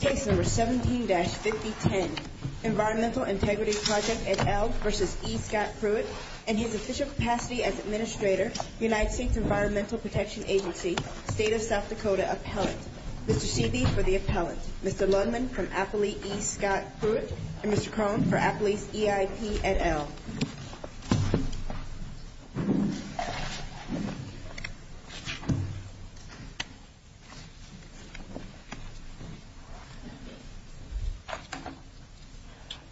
Case No. 17-5010, Environmental Integrity Project, et al. v. E. Scott Pruitt and his official capacity as Administrator, United States Environmental Protection Agency, State of South Dakota Appellant. Mr. Seeby for the Appellant, Mr. Lundman from Appalachia, E. Scott Pruitt, and Mr. Crone for Appalachia, EIP, et al.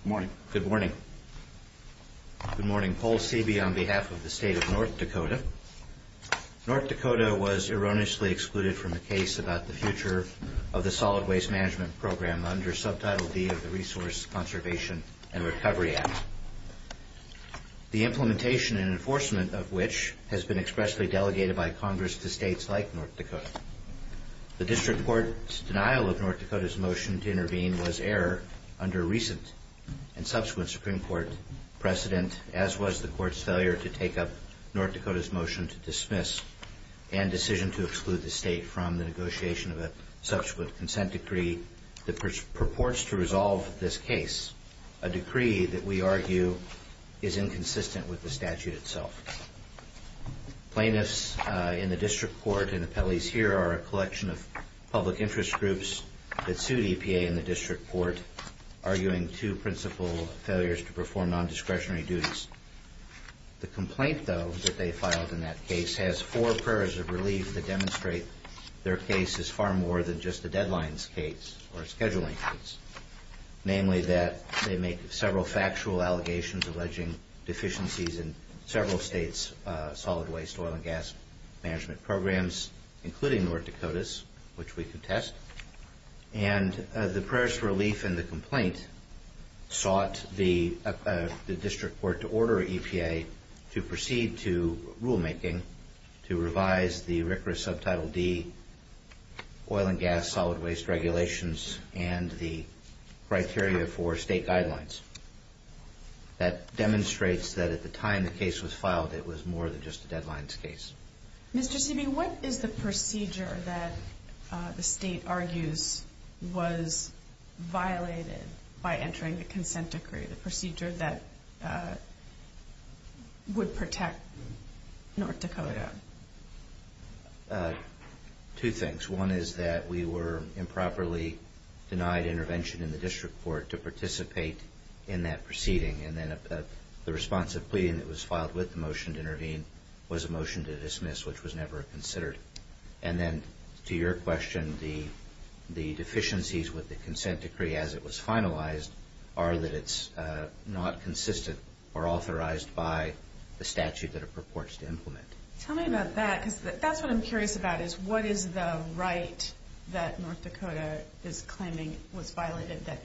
Good morning. Good morning. Good morning, Paul Seeby on behalf of the State of North Dakota. North Dakota was erroneously excluded from the case about the future of the Solid Waste Management Program under Subtitle D of the Resource Conservation and Recovery Act, the implementation and enforcement of which has been expressly delegated by Congress to states like North Dakota. The District Court's denial of North Dakota's motion to intervene was error under recent and subsequent Supreme Court precedent, as was the Court's failure to take up North Dakota's motion to dismiss and decision to exclude the state from the negotiation of a subsequent consent decree that purports to resolve this case, a decree that we argue is inconsistent with the statute itself. Plaintiffs in the District Court and appellees here are a collection of public interest groups that sued EPA in the District Court, arguing two principal failures to perform non-discretionary duties. The complaint, though, that they filed in that case has four prayers of relief that demonstrate their case is far more than just a deadlines case or a scheduling case, namely that they make several factual allegations alleging deficiencies in several states' Solid Waste Oil and Gas Management Programs, including North Dakota's, which we contest. And the prayers for relief in the complaint sought the District Court to order EPA to proceed to rulemaking to revise the RCRA Subtitle D Oil and Gas Solid Waste Regulations and the criteria for state guidelines. That demonstrates that at the time the case was filed, it was more than just a deadlines case. Mr. Seeby, what is the procedure that the state argues was violated by entering the consent decree, the procedure that would protect North Dakota? Two things. One is that we were improperly denied intervention in the District Court to participate in that proceeding. And then the response of pleading that was filed with the motion to intervene was a motion to dismiss, which was never considered. And then, to your question, the deficiencies with the consent decree as it was finalized are that it's not consistent or authorized by the statute that it purports to implement. Tell me about that because that's what I'm curious about is what is the right that North Dakota is claiming was violated, that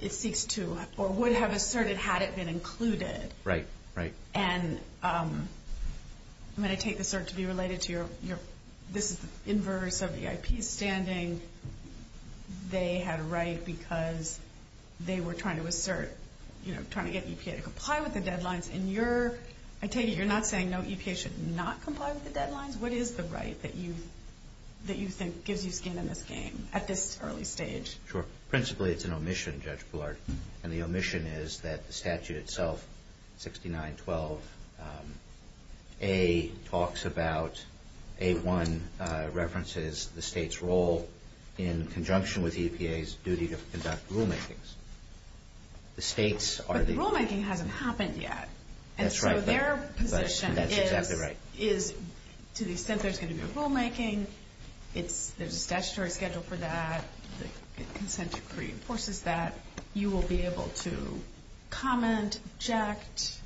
it seeks to or would have asserted had it been included. Right, right. And I'm going to take the assert to be related to your, this is the inverse of the IP standing. They had a right because they were trying to assert, you know, trying to get EPA to comply with the deadlines. And I take it you're not saying, no, EPA should not comply with the deadlines. What is the right that you think gives you skin in this game at this early stage? Sure. Principally, it's an omission, Judge Bullard. And the omission is that the statute itself, 6912A, talks about, A1 references the state's role in conjunction with EPA's duty to conduct rulemakings. But the rulemaking hasn't happened yet. That's right. And so their position is to the extent there's going to be a rulemaking, there's a statutory schedule for that, the consent decree enforces that, you will be able to comment, object,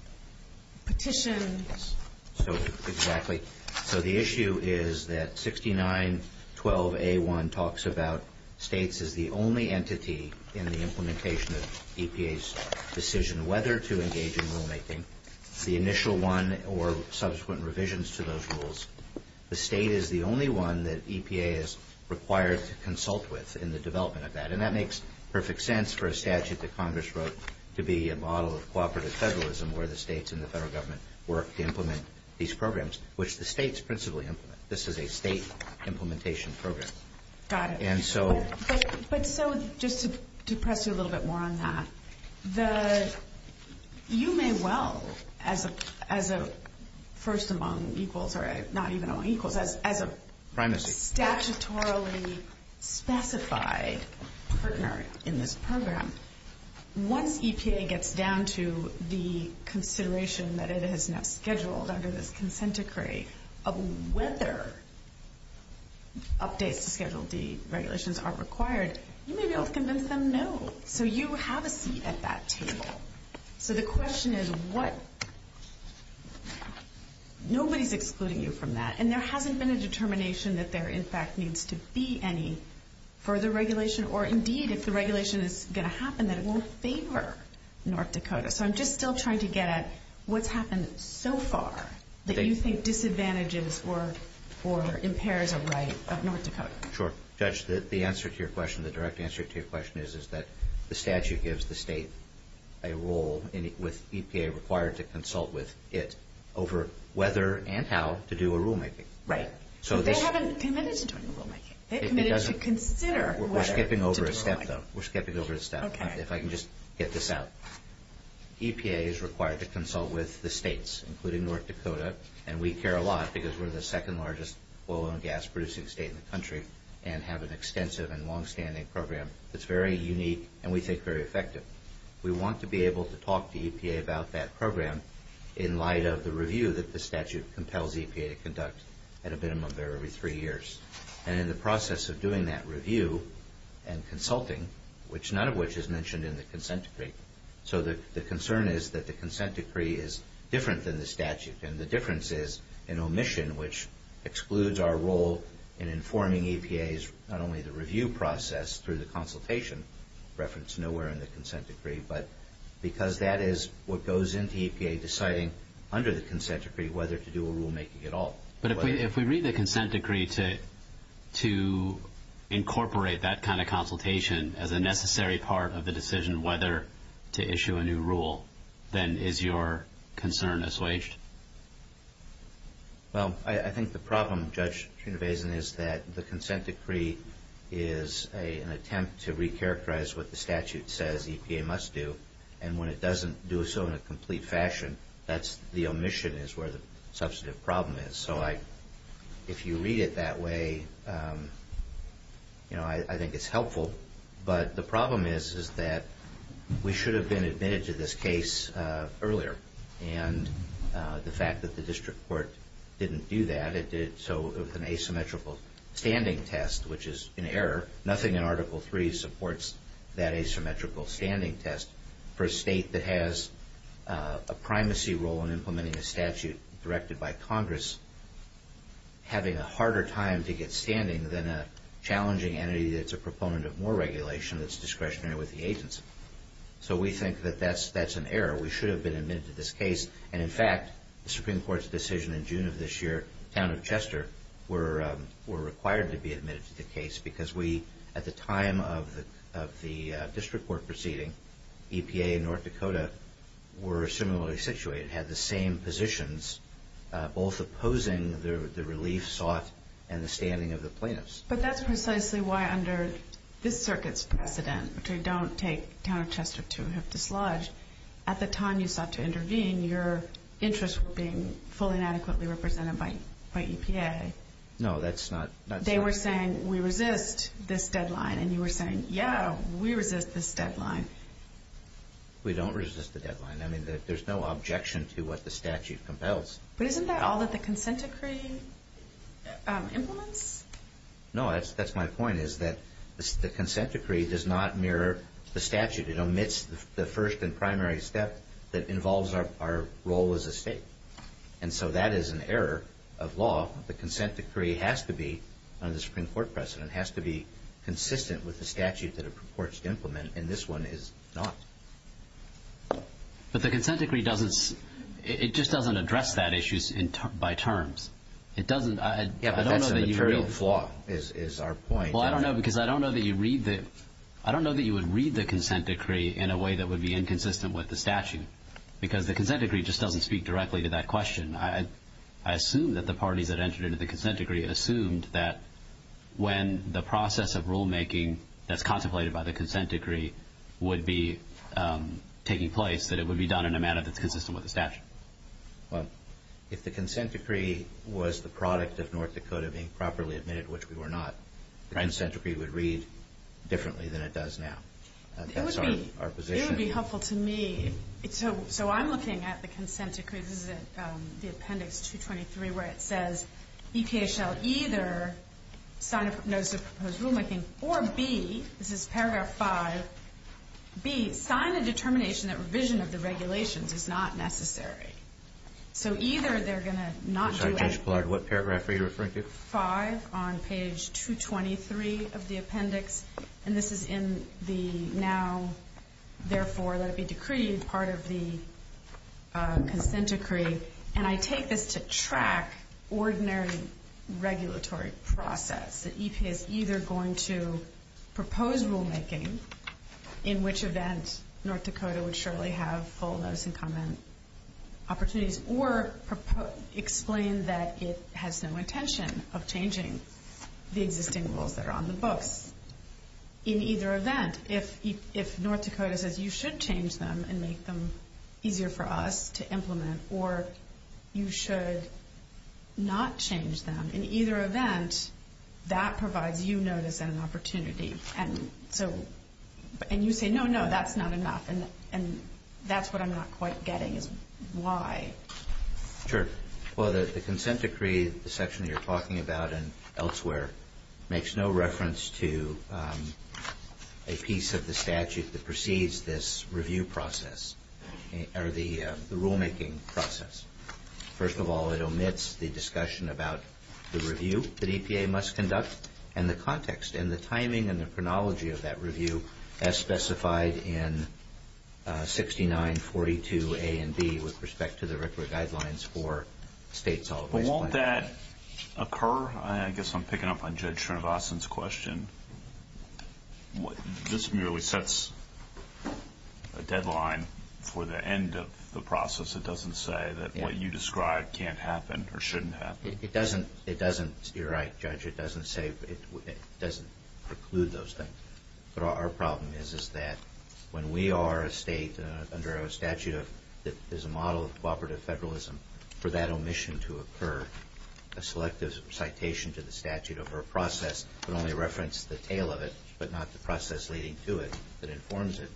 petition. So, exactly. So the issue is that 6912A1 talks about states as the only entity in the implementation of EPA's decision whether to engage in rulemaking, the initial one or subsequent revisions to those rules. The state is the only one that EPA is required to consult with in the development of that. And that makes perfect sense for a statute that Congress wrote to be a model of cooperative federalism where the states and the federal government work to implement these programs, which the states principally implement. This is a state implementation program. Got it. But so just to press you a little bit more on that, you may well, as a first among equals, or not even among equals, as a statutorily specified partner in this program, once EPA gets down to the consideration that it has now scheduled under this consent decree of whether updates to Schedule D regulations are required, you may be able to convince them no. So you have a seat at that table. So the question is what – nobody's excluding you from that. And there hasn't been a determination that there, in fact, needs to be any further regulation, or indeed, if the regulation is going to happen, that it won't favor North Dakota. So I'm just still trying to get at what's happened so far that you think disadvantages or impairs a right of North Dakota. Sure. Judge, the answer to your question, the direct answer to your question, is that the statute gives the state a role, with EPA required to consult with it, over whether and how to do a rulemaking. Right. So they haven't committed to doing a rulemaking. It doesn't. They committed to consider whether to do a rulemaking. We're skipping over a step, though. We're skipping over a step. Okay. If I can just get this out. EPA is required to consult with the states, including North Dakota, and we care a lot because we're the second largest oil and gas producing state in the country and have an extensive and longstanding program that's very unique and we think very effective. We want to be able to talk to EPA about that program in light of the review that the statute compels EPA to conduct at a minimum of every three years. And in the process of doing that review and consulting, which none of which is mentioned in the consent decree. So the concern is that the consent decree is different than the statute, and the difference is an omission which excludes our role in informing EPA's not only the review process through the consultation reference nowhere in the consent decree, but because that is what goes into EPA deciding under the consent decree whether to do a rulemaking at all. But if we read the consent decree to incorporate that kind of consultation as a necessary part of the decision whether to issue a new rule, then is your concern assuaged? Well, I think the problem, Judge Trunavason, is that the consent decree is an attempt to recharacterize what the statute says EPA must do, and when it doesn't do so in a complete fashion, that's the omission is where the substantive problem is. So if you read it that way, I think it's helpful. But the problem is that we should have been admitted to this case earlier, and the fact that the district court didn't do that, it did it with an asymmetrical standing test, which is an error. Nothing in Article III supports that asymmetrical standing test. For a state that has a primacy role in implementing a statute directed by Congress, having a harder time to get standing than a challenging entity that's a proponent of more regulation that's discretionary with the agency. So we think that that's an error. We should have been admitted to this case. And in fact, the Supreme Court's decision in June of this year, the town of Chester, were required to be admitted to the case because we, at the time of the district court proceeding, EPA and North Dakota were similarly situated, had the same positions, both opposing the relief sought and the standing of the plaintiffs. But that's precisely why under this circuit's precedent, which I don't take town of Chester to have dislodged, at the time you sought to intervene, your interests were being fully and adequately represented by EPA. No, that's not true. They were saying, we resist this deadline, and you were saying, yeah, we resist this deadline. We don't resist the deadline. I mean, there's no objection to what the statute compels. But isn't that all that the consent decree implements? No, that's my point, is that the consent decree does not mirror the statute. It omits the first and primary step that involves our role as a state. And so that is an error of law. The consent decree has to be, under the Supreme Court precedent, has to be consistent with the statute that it purports to implement, and this one is not. But the consent decree doesn't, it just doesn't address that issue by terms. Yeah, but that's a material flaw, is our point. Well, I don't know, because I don't know that you would read the consent decree in a way that would be inconsistent with the statute, because the consent decree just doesn't speak directly to that question. I assume that the parties that entered into the consent decree assumed that when the process of rulemaking that's contemplated by the consent decree would be taking place, that it would be done in a manner that's consistent with the statute. Well, if the consent decree was the product of North Dakota being properly admitted, which we were not, the consent decree would read differently than it does now. That's our position. It would be helpful to me. So I'm looking at the consent decree, this is the appendix 223, where it says, EPA shall either sign a notice of proposed rulemaking, or B, this is paragraph 5, B, sign a determination that revision of the regulations is not necessary. So either they're going to not do it. What paragraph are you referring to? 5 on page 223 of the appendix, and this is in the now, therefore, let it be decreed part of the consent decree, and I take this to track ordinary regulatory process. The EPA is either going to propose rulemaking, in which event North Dakota would surely have full notice and comment opportunities, or explain that it has no intention of changing the existing rules that are on the books. In either event, if North Dakota says you should change them and make them easier for us to implement, or you should not change them, in either event, that provides you notice and an opportunity. And you say, no, no, that's not enough, and that's what I'm not quite getting is why. Sure. Well, the consent decree, the section you're talking about and elsewhere, makes no reference to a piece of the statute that precedes this review process, or the rulemaking process. First of all, it omits the discussion about the review that EPA must conduct and the context and the timing and the chronology of that review, as specified in 6942A and B with respect to the regulatory guidelines for state solid waste plan. But won't that occur? I guess I'm picking up on Judge Srinivasan's question. This merely sets a deadline for the end of the process. It doesn't say that what you describe can't happen or shouldn't happen. It doesn't. You're right, Judge. It doesn't preclude those things. But our problem is that when we are a state under a statute that is a model of cooperative federalism, for that omission to occur, a selective citation to the statute over a process would only reference the tail of it, but not the process leading to it that informs it.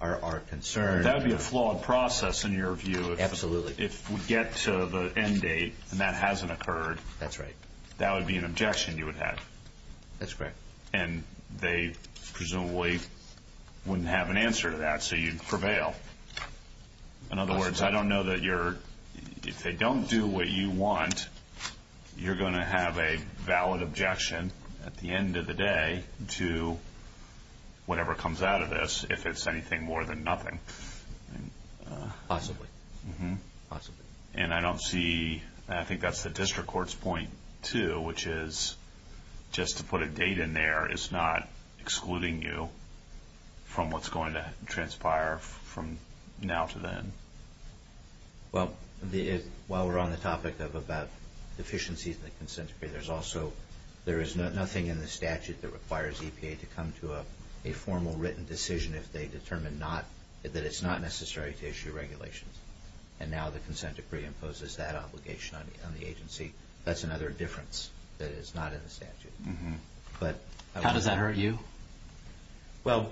That would be a flawed process in your view. Absolutely. If we get to the end date and that hasn't occurred, that would be an objection you would have. That's correct. And they presumably wouldn't have an answer to that, so you'd prevail. In other words, I don't know that if they don't do what you want, you're going to have a valid objection at the end of the day to whatever comes out of this if it's anything more than nothing. Possibly. And I don't see, and I think that's the district court's point too, which is just to put a date in there is not excluding you from what's going to transpire from now to then. Well, while we're on the topic about deficiencies in the consent decree, there is nothing in the statute that requires EPA to come to a formal written decision if they determine that it's not necessary to issue regulations. And now the consent decree imposes that obligation on the agency. That's another difference that is not in the statute. How does that hurt you? Well,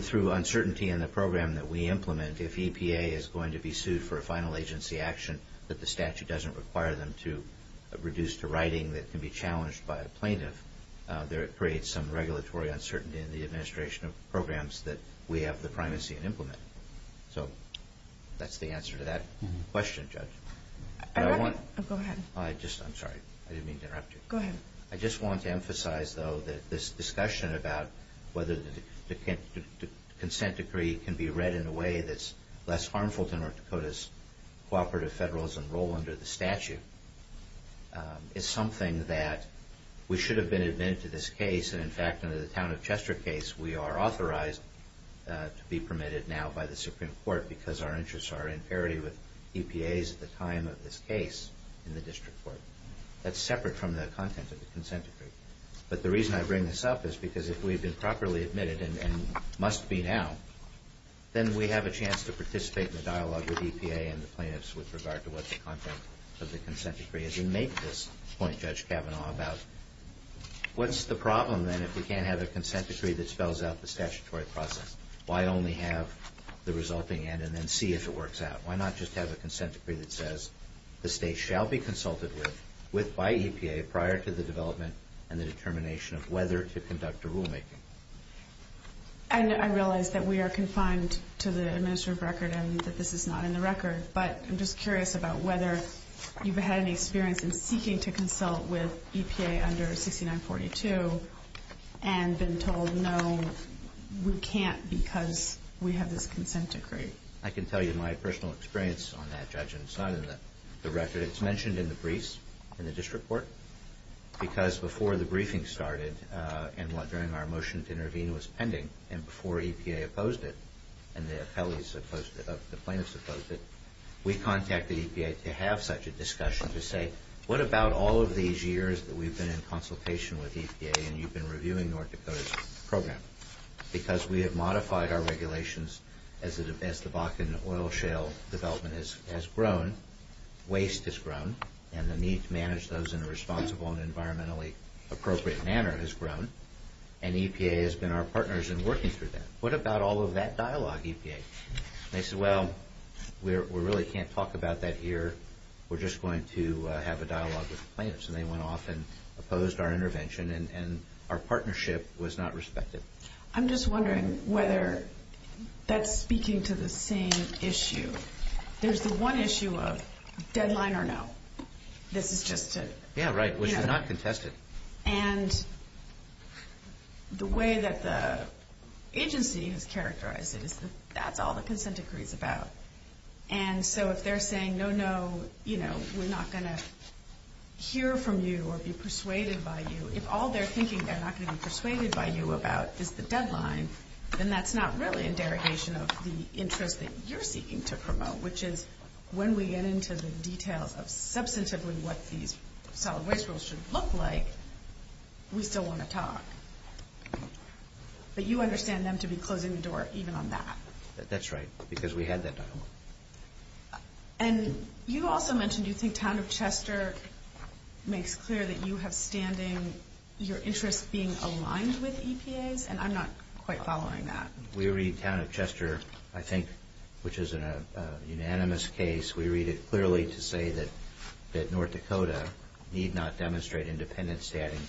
through uncertainty in the program that we implement, if EPA is going to be sued for a final agency action, that the statute doesn't require them to reduce to writing that can be challenged by a plaintiff, there creates some regulatory uncertainty in the administration of programs that we have the primacy and implement. So that's the answer to that question, Judge. Go ahead. I'm sorry. I didn't mean to interrupt you. Go ahead. I just want to emphasize, though, that this discussion about whether the consent decree can be read in a way that's less harmful to North Dakota's cooperative federalism role under the statute is something that we should have been admitted to this case. And in fact, under the town of Chester case, we are authorized to be permitted now by the Supreme Court because our interests are in parity with EPA's at the time of this case in the district court. That's separate from the content of the consent decree. But the reason I bring this up is because if we've been properly admitted and must be now, then we have a chance to participate in the dialogue with EPA and the plaintiffs with regard to what the content of the consent decree is. And make this point, Judge Kavanaugh, about what's the problem, then, if we can't have a consent decree that spells out the statutory process? Why only have the resulting end and then see if it works out? Why not just have a consent decree that says the state shall be consulted with by EPA prior to the development and the determination of whether to conduct a rulemaking? I realize that we are confined to the administrative record and that this is not in the record, but I'm just curious about whether you've had any experience in seeking to consult with EPA under 6942 and been told, no, we can't because we have this consent decree. I can tell you my personal experience on that, Judge, and it's not in the record. It's mentioned in the briefs in the district court because before the briefing started and during our motion to intervene was pending and before EPA opposed it and the plaintiffs opposed it, we contacted EPA to have such a discussion to say, what about all of these years that we've been in consultation with EPA and you've been reviewing North Dakota's program? Because we have modified our regulations as the Bakken oil shale development has grown, waste has grown, and the need to manage those in a responsible and environmentally appropriate manner has grown, and EPA has been our partners in working through that. What about all of that dialogue, EPA? They said, well, we really can't talk about that here. We're just going to have a dialogue with the plaintiffs, and they went off and opposed our intervention, and our partnership was not respected. I'm just wondering whether that's speaking to the same issue. There's the one issue of deadline or no. This is just a... Yeah, right, which is not contested. And the way that the agency has characterized it is that that's all the consent decree is about. And so if they're saying, no, no, we're not going to hear from you or be persuaded by you, if all they're thinking they're not going to be persuaded by you about is the deadline, then that's not really a derogation of the interest that you're seeking to promote, which is when we get into the details of substantively what these solid waste rules should look like, we still want to talk. But you understand them to be closing the door even on that. That's right, because we had that dialogue. And you also mentioned you think Town of Chester makes clear that you have standing, your interests being aligned with EPA's, and I'm not quite following that. We read Town of Chester, I think, which is a unanimous case, we read it clearly to say that North Dakota need not demonstrate independent standing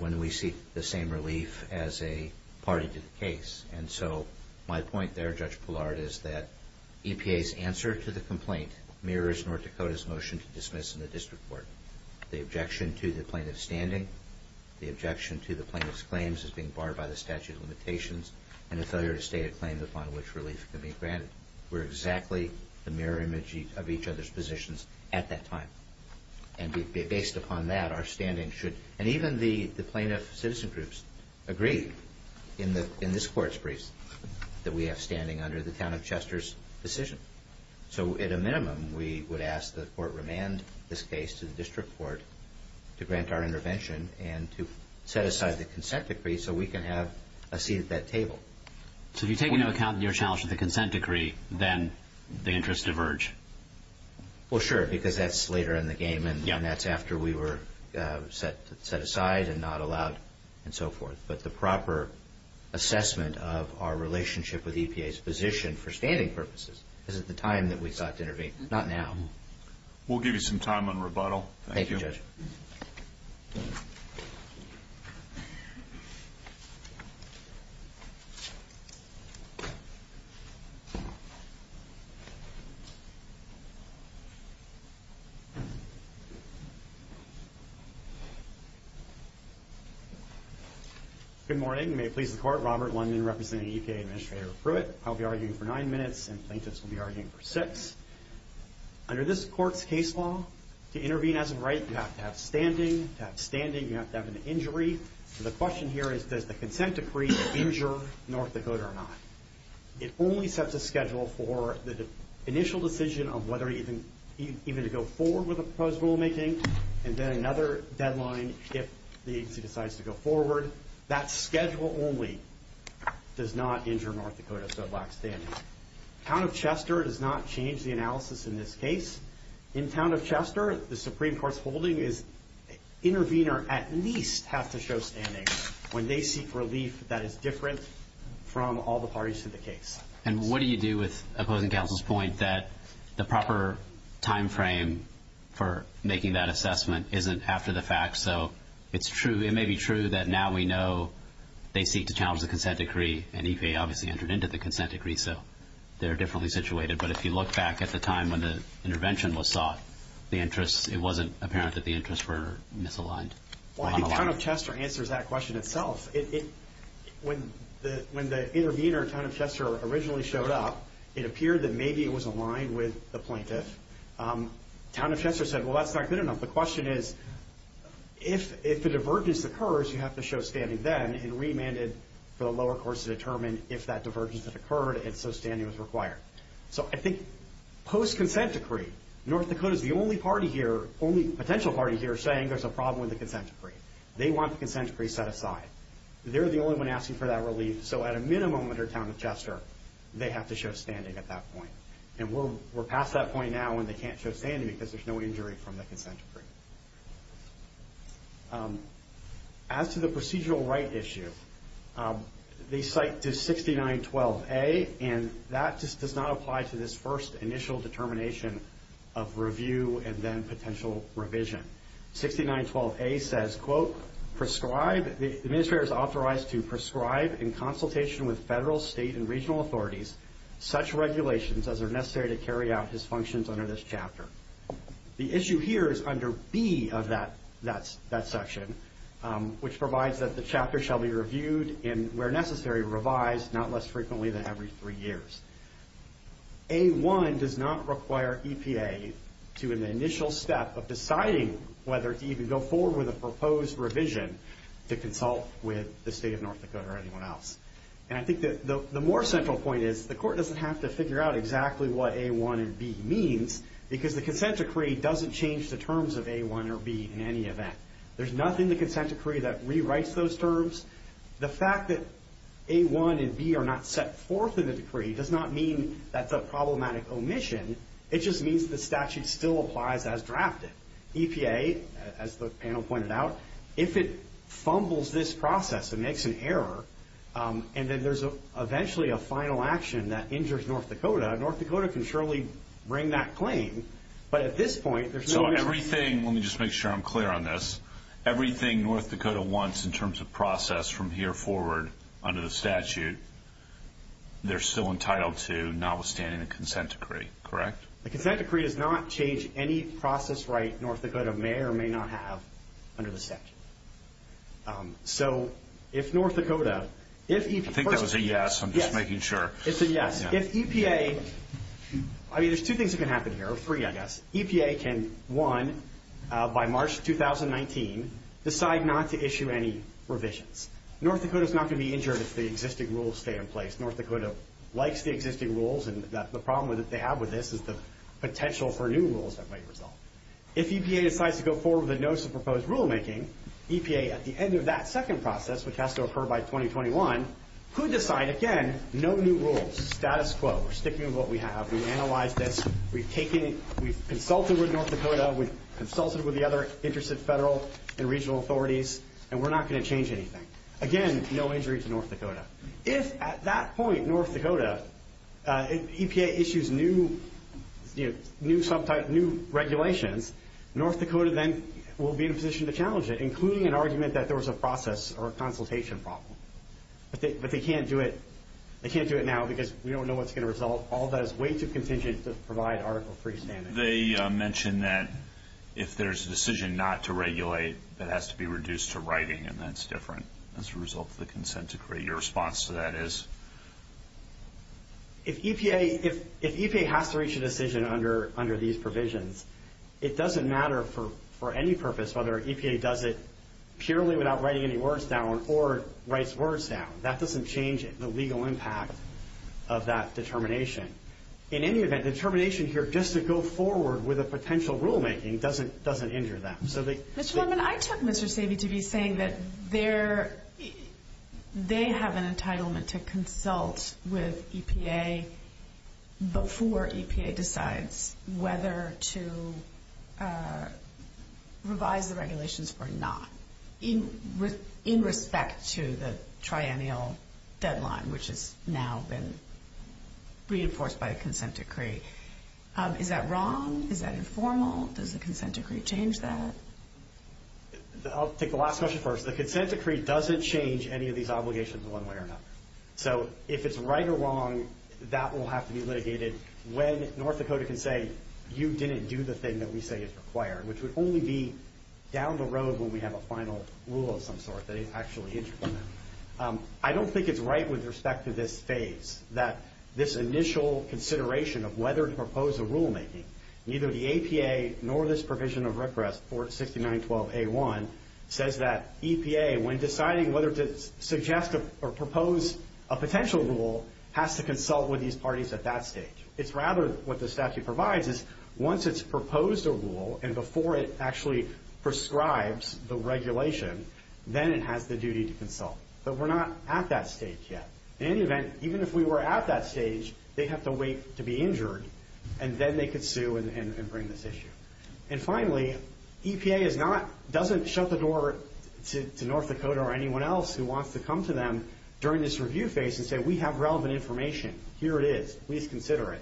when we seek the same relief as a party to the case. And so my point there, Judge Pillard, is that EPA's answer to the complaint mirrors North Dakota's motion to dismiss in the district court. The objection to the plaintiff's standing, the objection to the plaintiff's claims as being barred by the statute of limitations, and a failure to state a claim upon which relief can be granted were exactly the mirror image of each other's positions at that time. And based upon that, our standing should, and even the plaintiff citizen groups, agree in this court's briefs that we have standing under the Town of Chester's decision. So at a minimum, we would ask the court remand this case to the district court to grant our intervention and to set aside the consent decree so we can have a seat at that table. So if you're taking into account your challenge with the consent decree, then the interests diverge? Well, sure, because that's later in the game, and that's after we were set aside and not allowed and so forth. But the proper assessment of our relationship with EPA's position for standing purposes is at the time that we sought to intervene, not now. We'll give you some time on rebuttal. Thank you, Judge. Good morning. May it please the Court. Robert Lundin, representing EPA Administrator Pruitt. I'll be arguing for nine minutes, and plaintiffs will be arguing for six. Under this court's case law, to intervene as a right, you have to have standing. To have standing, you have to have an injury. So the question here is, does the consent decree injure North Dakota or not? It only sets a schedule for the initial decision of whether even to go forward with the proposed rulemaking, and then another deadline if the agency decides to go forward. That schedule only does not injure North Dakota, so black standing. Town of Chester does not change the analysis in this case. In Town of Chester, the Supreme Court's holding is intervener at least has to show standing when they seek relief that is different from all the parties to the case. And what do you do with opposing counsel's point that the proper time frame for making that assessment isn't after the fact? So it may be true that now we know they seek to challenge the consent decree, and EPA obviously entered into the consent decree, so they're differently situated. But if you look back at the time when the intervention was sought, it wasn't apparent that the interests were misaligned. Well, I think Town of Chester answers that question itself. When the intervener in Town of Chester originally showed up, it appeared that maybe it was aligned with the plaintiff. Town of Chester said, well, that's not good enough. The question is, if a divergence occurs, you have to show standing then, and remanded for the lower courts to determine if that divergence had occurred and so standing was required. So I think post-consent decree, North Dakota's the only party here, only potential party here, saying there's a problem with the consent decree. They want the consent decree set aside. They're the only one asking for that relief. So at a minimum under Town of Chester, they have to show standing at that point. And we're past that point now when they can't show standing because there's no injury from the consent decree. As to the procedural right issue, they cite to 6912A, and that just does not apply to this first initial determination of review 6912A says, quote, the administrator is authorized to prescribe in consultation with federal, state, and regional authorities such regulations as are necessary to carry out his functions under this chapter. The issue here is under B of that section, which provides that the chapter shall be reviewed and, where necessary, revised, not less frequently than every three years. A1 does not require EPA to, in the initial step of deciding whether to even go forward with a proposed revision to consult with the state of North Dakota or anyone else. And I think the more central point is the court doesn't have to figure out exactly what A1 and B means because the consent decree doesn't change the terms of A1 or B in any event. There's nothing in the consent decree that rewrites those terms. The fact that A1 and B are not set forth in the decree does not mean that's a problematic omission. It just means the statute still applies as drafted. EPA, as the panel pointed out, if it fumbles this process and makes an error and then there's eventually a final action that injures North Dakota, North Dakota can surely bring that claim, but at this point there's no reason... So everything, let me just make sure I'm clear on this, everything North Dakota wants in terms of process from here forward under the statute, they're still entitled to notwithstanding the consent decree, correct? The consent decree does not change any process right North Dakota may or may not have under the statute. So if North Dakota... I think that was a yes, I'm just making sure. It's a yes. If EPA... I mean, there's two things that can happen here, or three I guess. EPA can, one, by March 2019 decide not to issue any revisions. North Dakota's not going to be injured if the existing rules stay in place. North Dakota likes the existing rules and the problem that they have with this is the potential for new rules that might result. If EPA decides to go forward with a notice of proposed rulemaking, EPA at the end of that second process, which has to occur by 2021, could decide, again, no new rules, status quo, we're sticking with what we have, we've analyzed this, we've consulted with North Dakota, we've consulted with the other interested federal and regional authorities, and we're not going to change anything. Again, no injury to North Dakota. If at that point, North Dakota, if EPA issues new regulations, North Dakota then will be in a position to challenge it, including an argument that there was a process or a consultation problem. But they can't do it now because we don't know what's going to result. All that is way too contingent to provide Article III standing. They mentioned that if there's a decision not to regulate, that has to be reduced to writing, and that's different as a result of the consent decree. Your response to that is? If EPA has to reach a decision under these provisions, it doesn't matter for any purpose whether EPA does it purely without writing any words down or writes words down. That doesn't change the legal impact of that determination. In any event, determination here just to go forward with a potential rulemaking doesn't injure them. Mr. Norman, I took Mr. Savey to be saying that they have an entitlement to consult with EPA before EPA decides whether to revise the regulations or not in respect to the triennial deadline, which has now been reinforced by the consent decree. Is that wrong? Is that informal? Does the consent decree change that? I'll take the last question first. The consent decree doesn't change any of these obligations one way or another. So if it's right or wrong, that will have to be litigated when North Dakota can say, you didn't do the thing that we say is required, which would only be down the road when we have a final rule of some sort that is actually injuring them. I don't think it's right with respect to this phase, this initial consideration of whether to propose a rulemaking. Neither the EPA nor this provision of repress, 469.12a.1, says that EPA, when deciding whether to suggest or propose a potential rule, has to consult with these parties at that stage. It's rather what the statute provides is once it's proposed a rule and before it actually prescribes the regulation, then it has the duty to consult. But we're not at that stage yet. In any event, even if we were at that stage, they'd have to wait to be injured, and then they could sue and bring this issue. And finally, EPA doesn't shut the door to North Dakota or anyone else who wants to come to them during this review phase and say, we have relevant information. Here it is. Please consider it.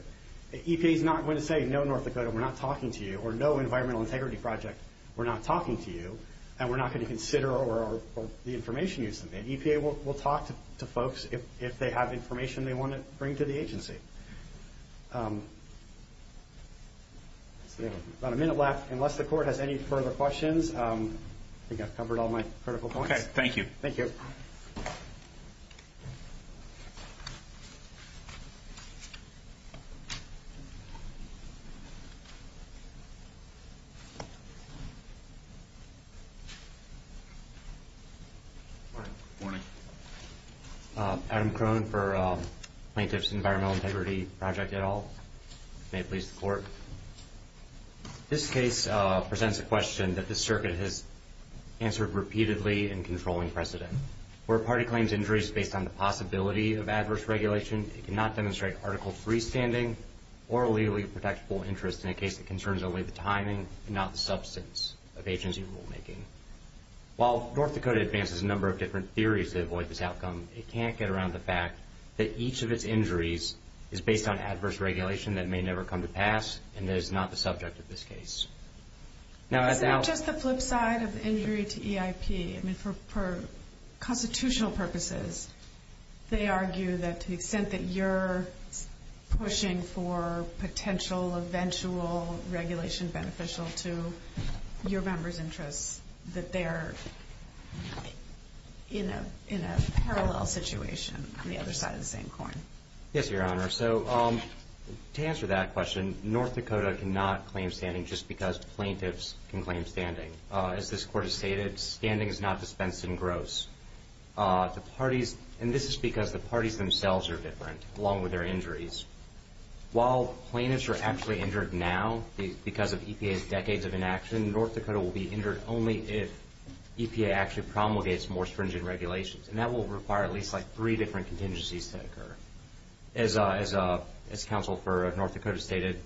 EPA's not going to say, no, North Dakota, we're not talking to you, or no, Environmental Integrity Project, we're not talking to you, and we're not going to consider the information you submitted. EPA will talk to folks if they have information they want to bring to the agency. We have about a minute left. Unless the court has any further questions, I think I've covered all my critical points. Okay. Thank you. Thank you. Thank you. Morning. Adam Crone for Plaintiff's Environmental Integrity Project et al. May it please the court. This case presents a question that the circuit has answered repeatedly in controlling precedent. Where a party claims injury is based on the possibility of adverse regulation, it cannot demonstrate article of freestanding or a legally protectable interest in a case that concerns only the timing and not the substance of agency rulemaking. While North Dakota advances a number of different theories to avoid this outcome, it can't get around the fact that each of its injuries is based on adverse regulation that may never come to pass and is not the subject of this case. Isn't it just the flip side of injury to EIP? I mean, for constitutional purposes, they argue that to the extent that you're pushing for potential eventual regulation beneficial to your members' interests, that they're in a parallel situation on the other side of the same coin. Yes, Your Honor. So to answer that question, North Dakota cannot claim standing just because plaintiffs can claim standing. As this court has stated, standing is not dispensed in gross. And this is because the parties themselves are different along with their injuries. While plaintiffs are actually injured now because of EPA's decades of inaction, North Dakota will be injured only if EPA actually promulgates more stringent regulations. And that will require at least like three different contingencies to occur. As Counsel for North Dakota stated,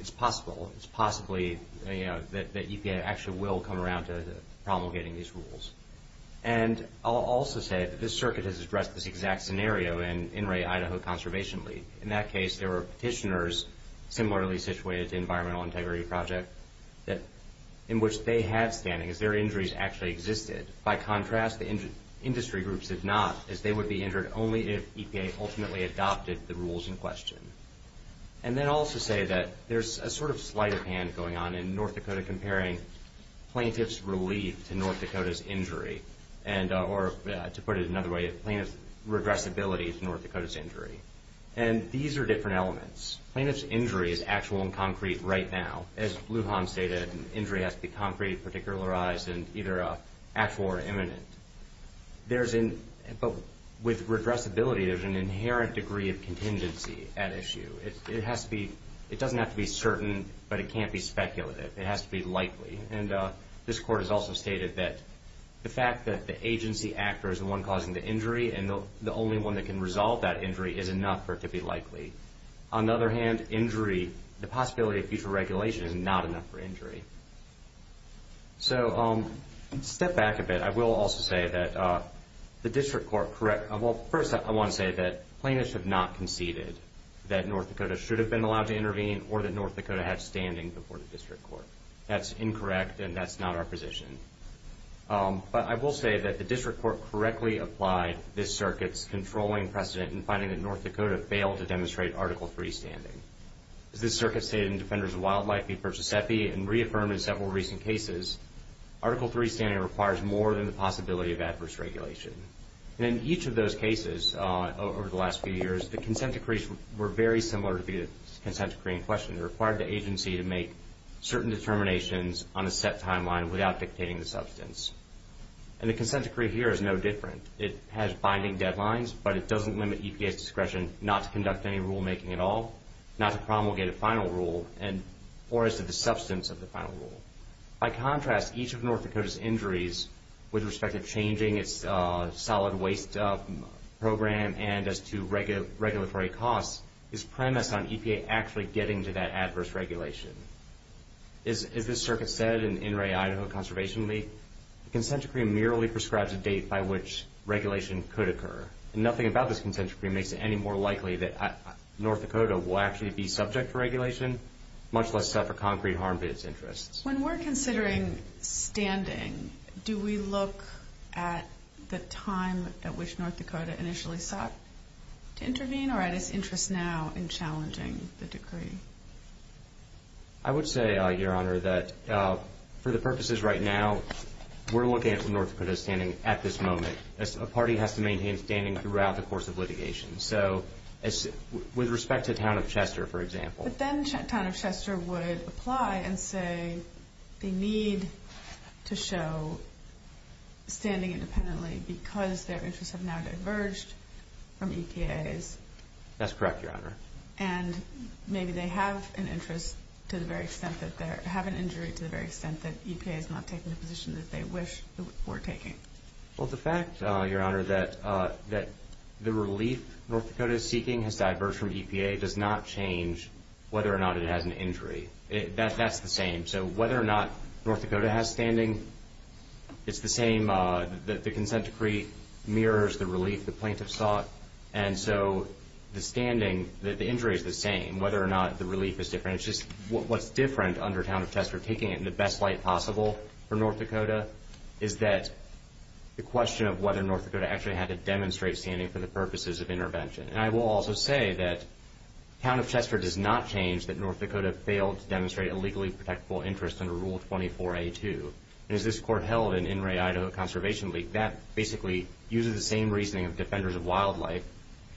it's possible. It's possibly that EPA actually will come around to promulgating these rules. And I'll also say that this circuit has addressed this exact scenario in In re Idaho Conservation League. In that case, there were petitioners similarly situated to Environmental Integrity Project in which they had standing as their injuries actually existed. By contrast, the industry groups did not, as they would be injured only if EPA ultimately adopted the rules in question. And then I'll also say that there's a sort of sleight of hand going on in North Dakota comparing plaintiff's relief to North Dakota's injury or to put it another way, plaintiff's regressibility to North Dakota's injury. And these are different elements. Plaintiff's injury is actual and concrete right now. As Lujan stated, an injury has to be concrete, particularized, and either actual or imminent. But with regressibility, there's an inherent degree of contingency at issue. It doesn't have to be certain, but it can't be speculative. It has to be likely. And this Court has also stated that the fact that the agency actor is the one causing the injury and the only one that can resolve that injury is enough for it to be likely. On the other hand, injury, the possibility of future regulation is not enough for injury. So let's step back a bit. I will also say that the District Court correctó well, first I want to say that plaintiffs have not conceded that North Dakota should have been allowed to intervene or that North Dakota had standing before the District Court. That's incorrect, and that's not our position. But I will say that the District Court correctly applied this circuit's controlling precedent in finding that North Dakota failed to demonstrate Article III standing. As this circuit stated in Defenders of Wildlife v. Perciasepe and reaffirmed in several recent cases, Article III standing requires more than the possibility of adverse regulation. And in each of those cases over the last few years, the consent decrees were very similar to the consent decree in question. It required the agency to make certain determinations on a set timeline without dictating the substance. And the consent decree here is no different. It has binding deadlines, but it doesn't limit EPA's discretion not to conduct any rulemaking at all, not to promulgate a final rule, or as to the substance of the final rule. By contrast, each of North Dakota's injuries with respect to changing its solid waste program and as to regulatory costs is premised on EPA actually getting to that adverse regulation. As this circuit said in In re Idaho Conservation League, the consent decree merely prescribes a date by which regulation could occur. Nothing about this consent decree makes it any more likely that North Dakota will actually be subject to regulation, much less suffer concrete harm to its interests. When we're considering standing, do we look at the time at which North Dakota initially sought to intervene or at its interest now in challenging the decree? I would say, Your Honor, that for the purposes right now, we're looking at North Dakota standing at this moment. A party has to maintain standing throughout the course of litigation. So with respect to the town of Chester, for example. But then town of Chester would apply and say they need to show standing independently because their interests have now diverged from EPA's. That's correct, Your Honor. And maybe they have an interest to the very extent that they're having injury to the very extent that EPA is not taking the position that they wish they were taking. Well, the fact, Your Honor, that the relief North Dakota is seeking has diverged from EPA does not change whether or not it has an injury. That's the same. So whether or not North Dakota has standing, it's the same. The consent decree mirrors the relief the plaintiff sought. And so the standing, the injury is the same, whether or not the relief is different. What's different under town of Chester, taking it in the best light possible for North Dakota, is that the question of whether North Dakota actually had to demonstrate standing for the purposes of intervention. And I will also say that town of Chester does not change that North Dakota failed to demonstrate a legally protectable interest under Rule 24A2. And as this court held in In re Idaho Conservation League, that basically uses the same reasoning of defenders of wildlife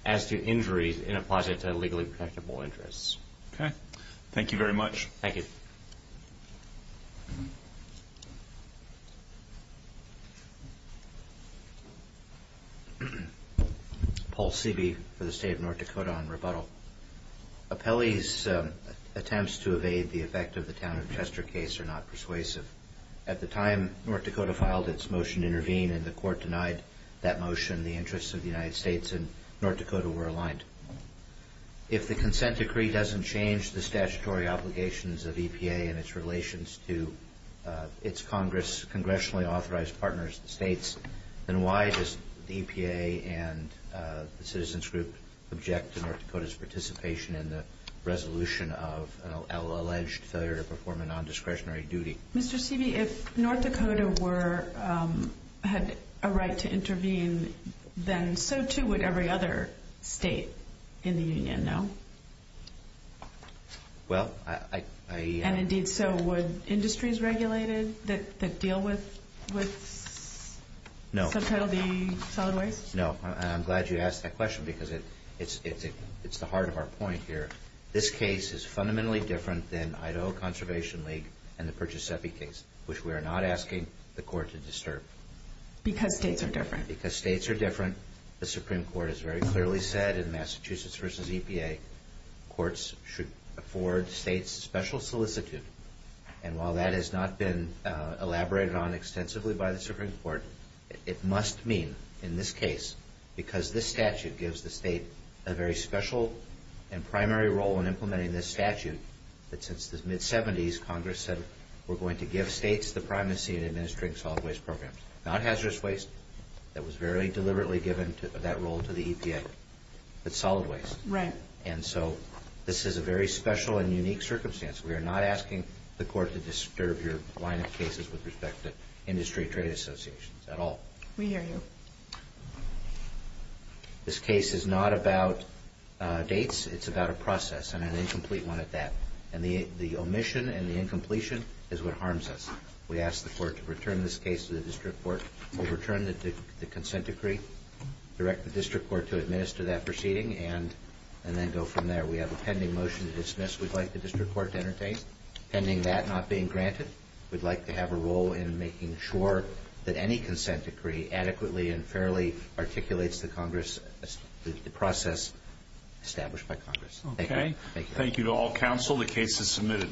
as to injuries and applies it to legally protectable interests. Okay. Thank you very much. Thank you. Paul Seaby for the State of North Dakota on rebuttal. Appellee's attempts to evade the effect of the town of Chester case are not persuasive. At the time North Dakota filed its motion to intervene and the court denied that motion, the interests of the United States and North Dakota were aligned. If the consent decree doesn't change the statutory obligations of EPA and its relations to its Congress, congressionally authorized partners, the states, then why does the EPA and the Citizens Group object to North Dakota's participation in the resolution of an alleged failure to perform a non-discretionary duty? Mr. Seaby, if North Dakota had a right to intervene, then so too would every other state in the union, no? Well, I... And indeed so would industries regulated that deal with... No. ...subtitle D solid waste? No. And I'm glad you asked that question because it's the heart of our point here. This case is fundamentally different than Idaho Conservation League and the Perciasepe case, which we are not asking the court to disturb. Because states are different. Because states are different. The Supreme Court has very clearly said in Massachusetts v. EPA courts should afford states special solicitude. And while that has not been elaborated on extensively by the Supreme Court, it must mean in this case, because this statute gives the state a very special and primary role in implementing this statute, that since the mid-'70s, Congress said we're going to give states the primacy in administering solid waste programs, not hazardous waste that was very deliberately given that role to the EPA. It's solid waste. Right. And so this is a very special and unique circumstance. We are not asking the court to disturb your line of cases with respect to industry trade associations at all. We hear you. This case is not about dates. It's about a process and an incomplete one at that. And the omission and the incompletion is what harms us. We ask the court to return this case to the district court. We'll return the consent decree, direct the district court to administer that proceeding, and then go from there. We have a pending motion to dismiss. We'd like the district court to entertain. Pending that not being granted, we'd like to have a role in making sure that any consent decree adequately and fairly articulates the process established by Congress. Okay. Thank you. Thank you to all counsel. The case is submitted.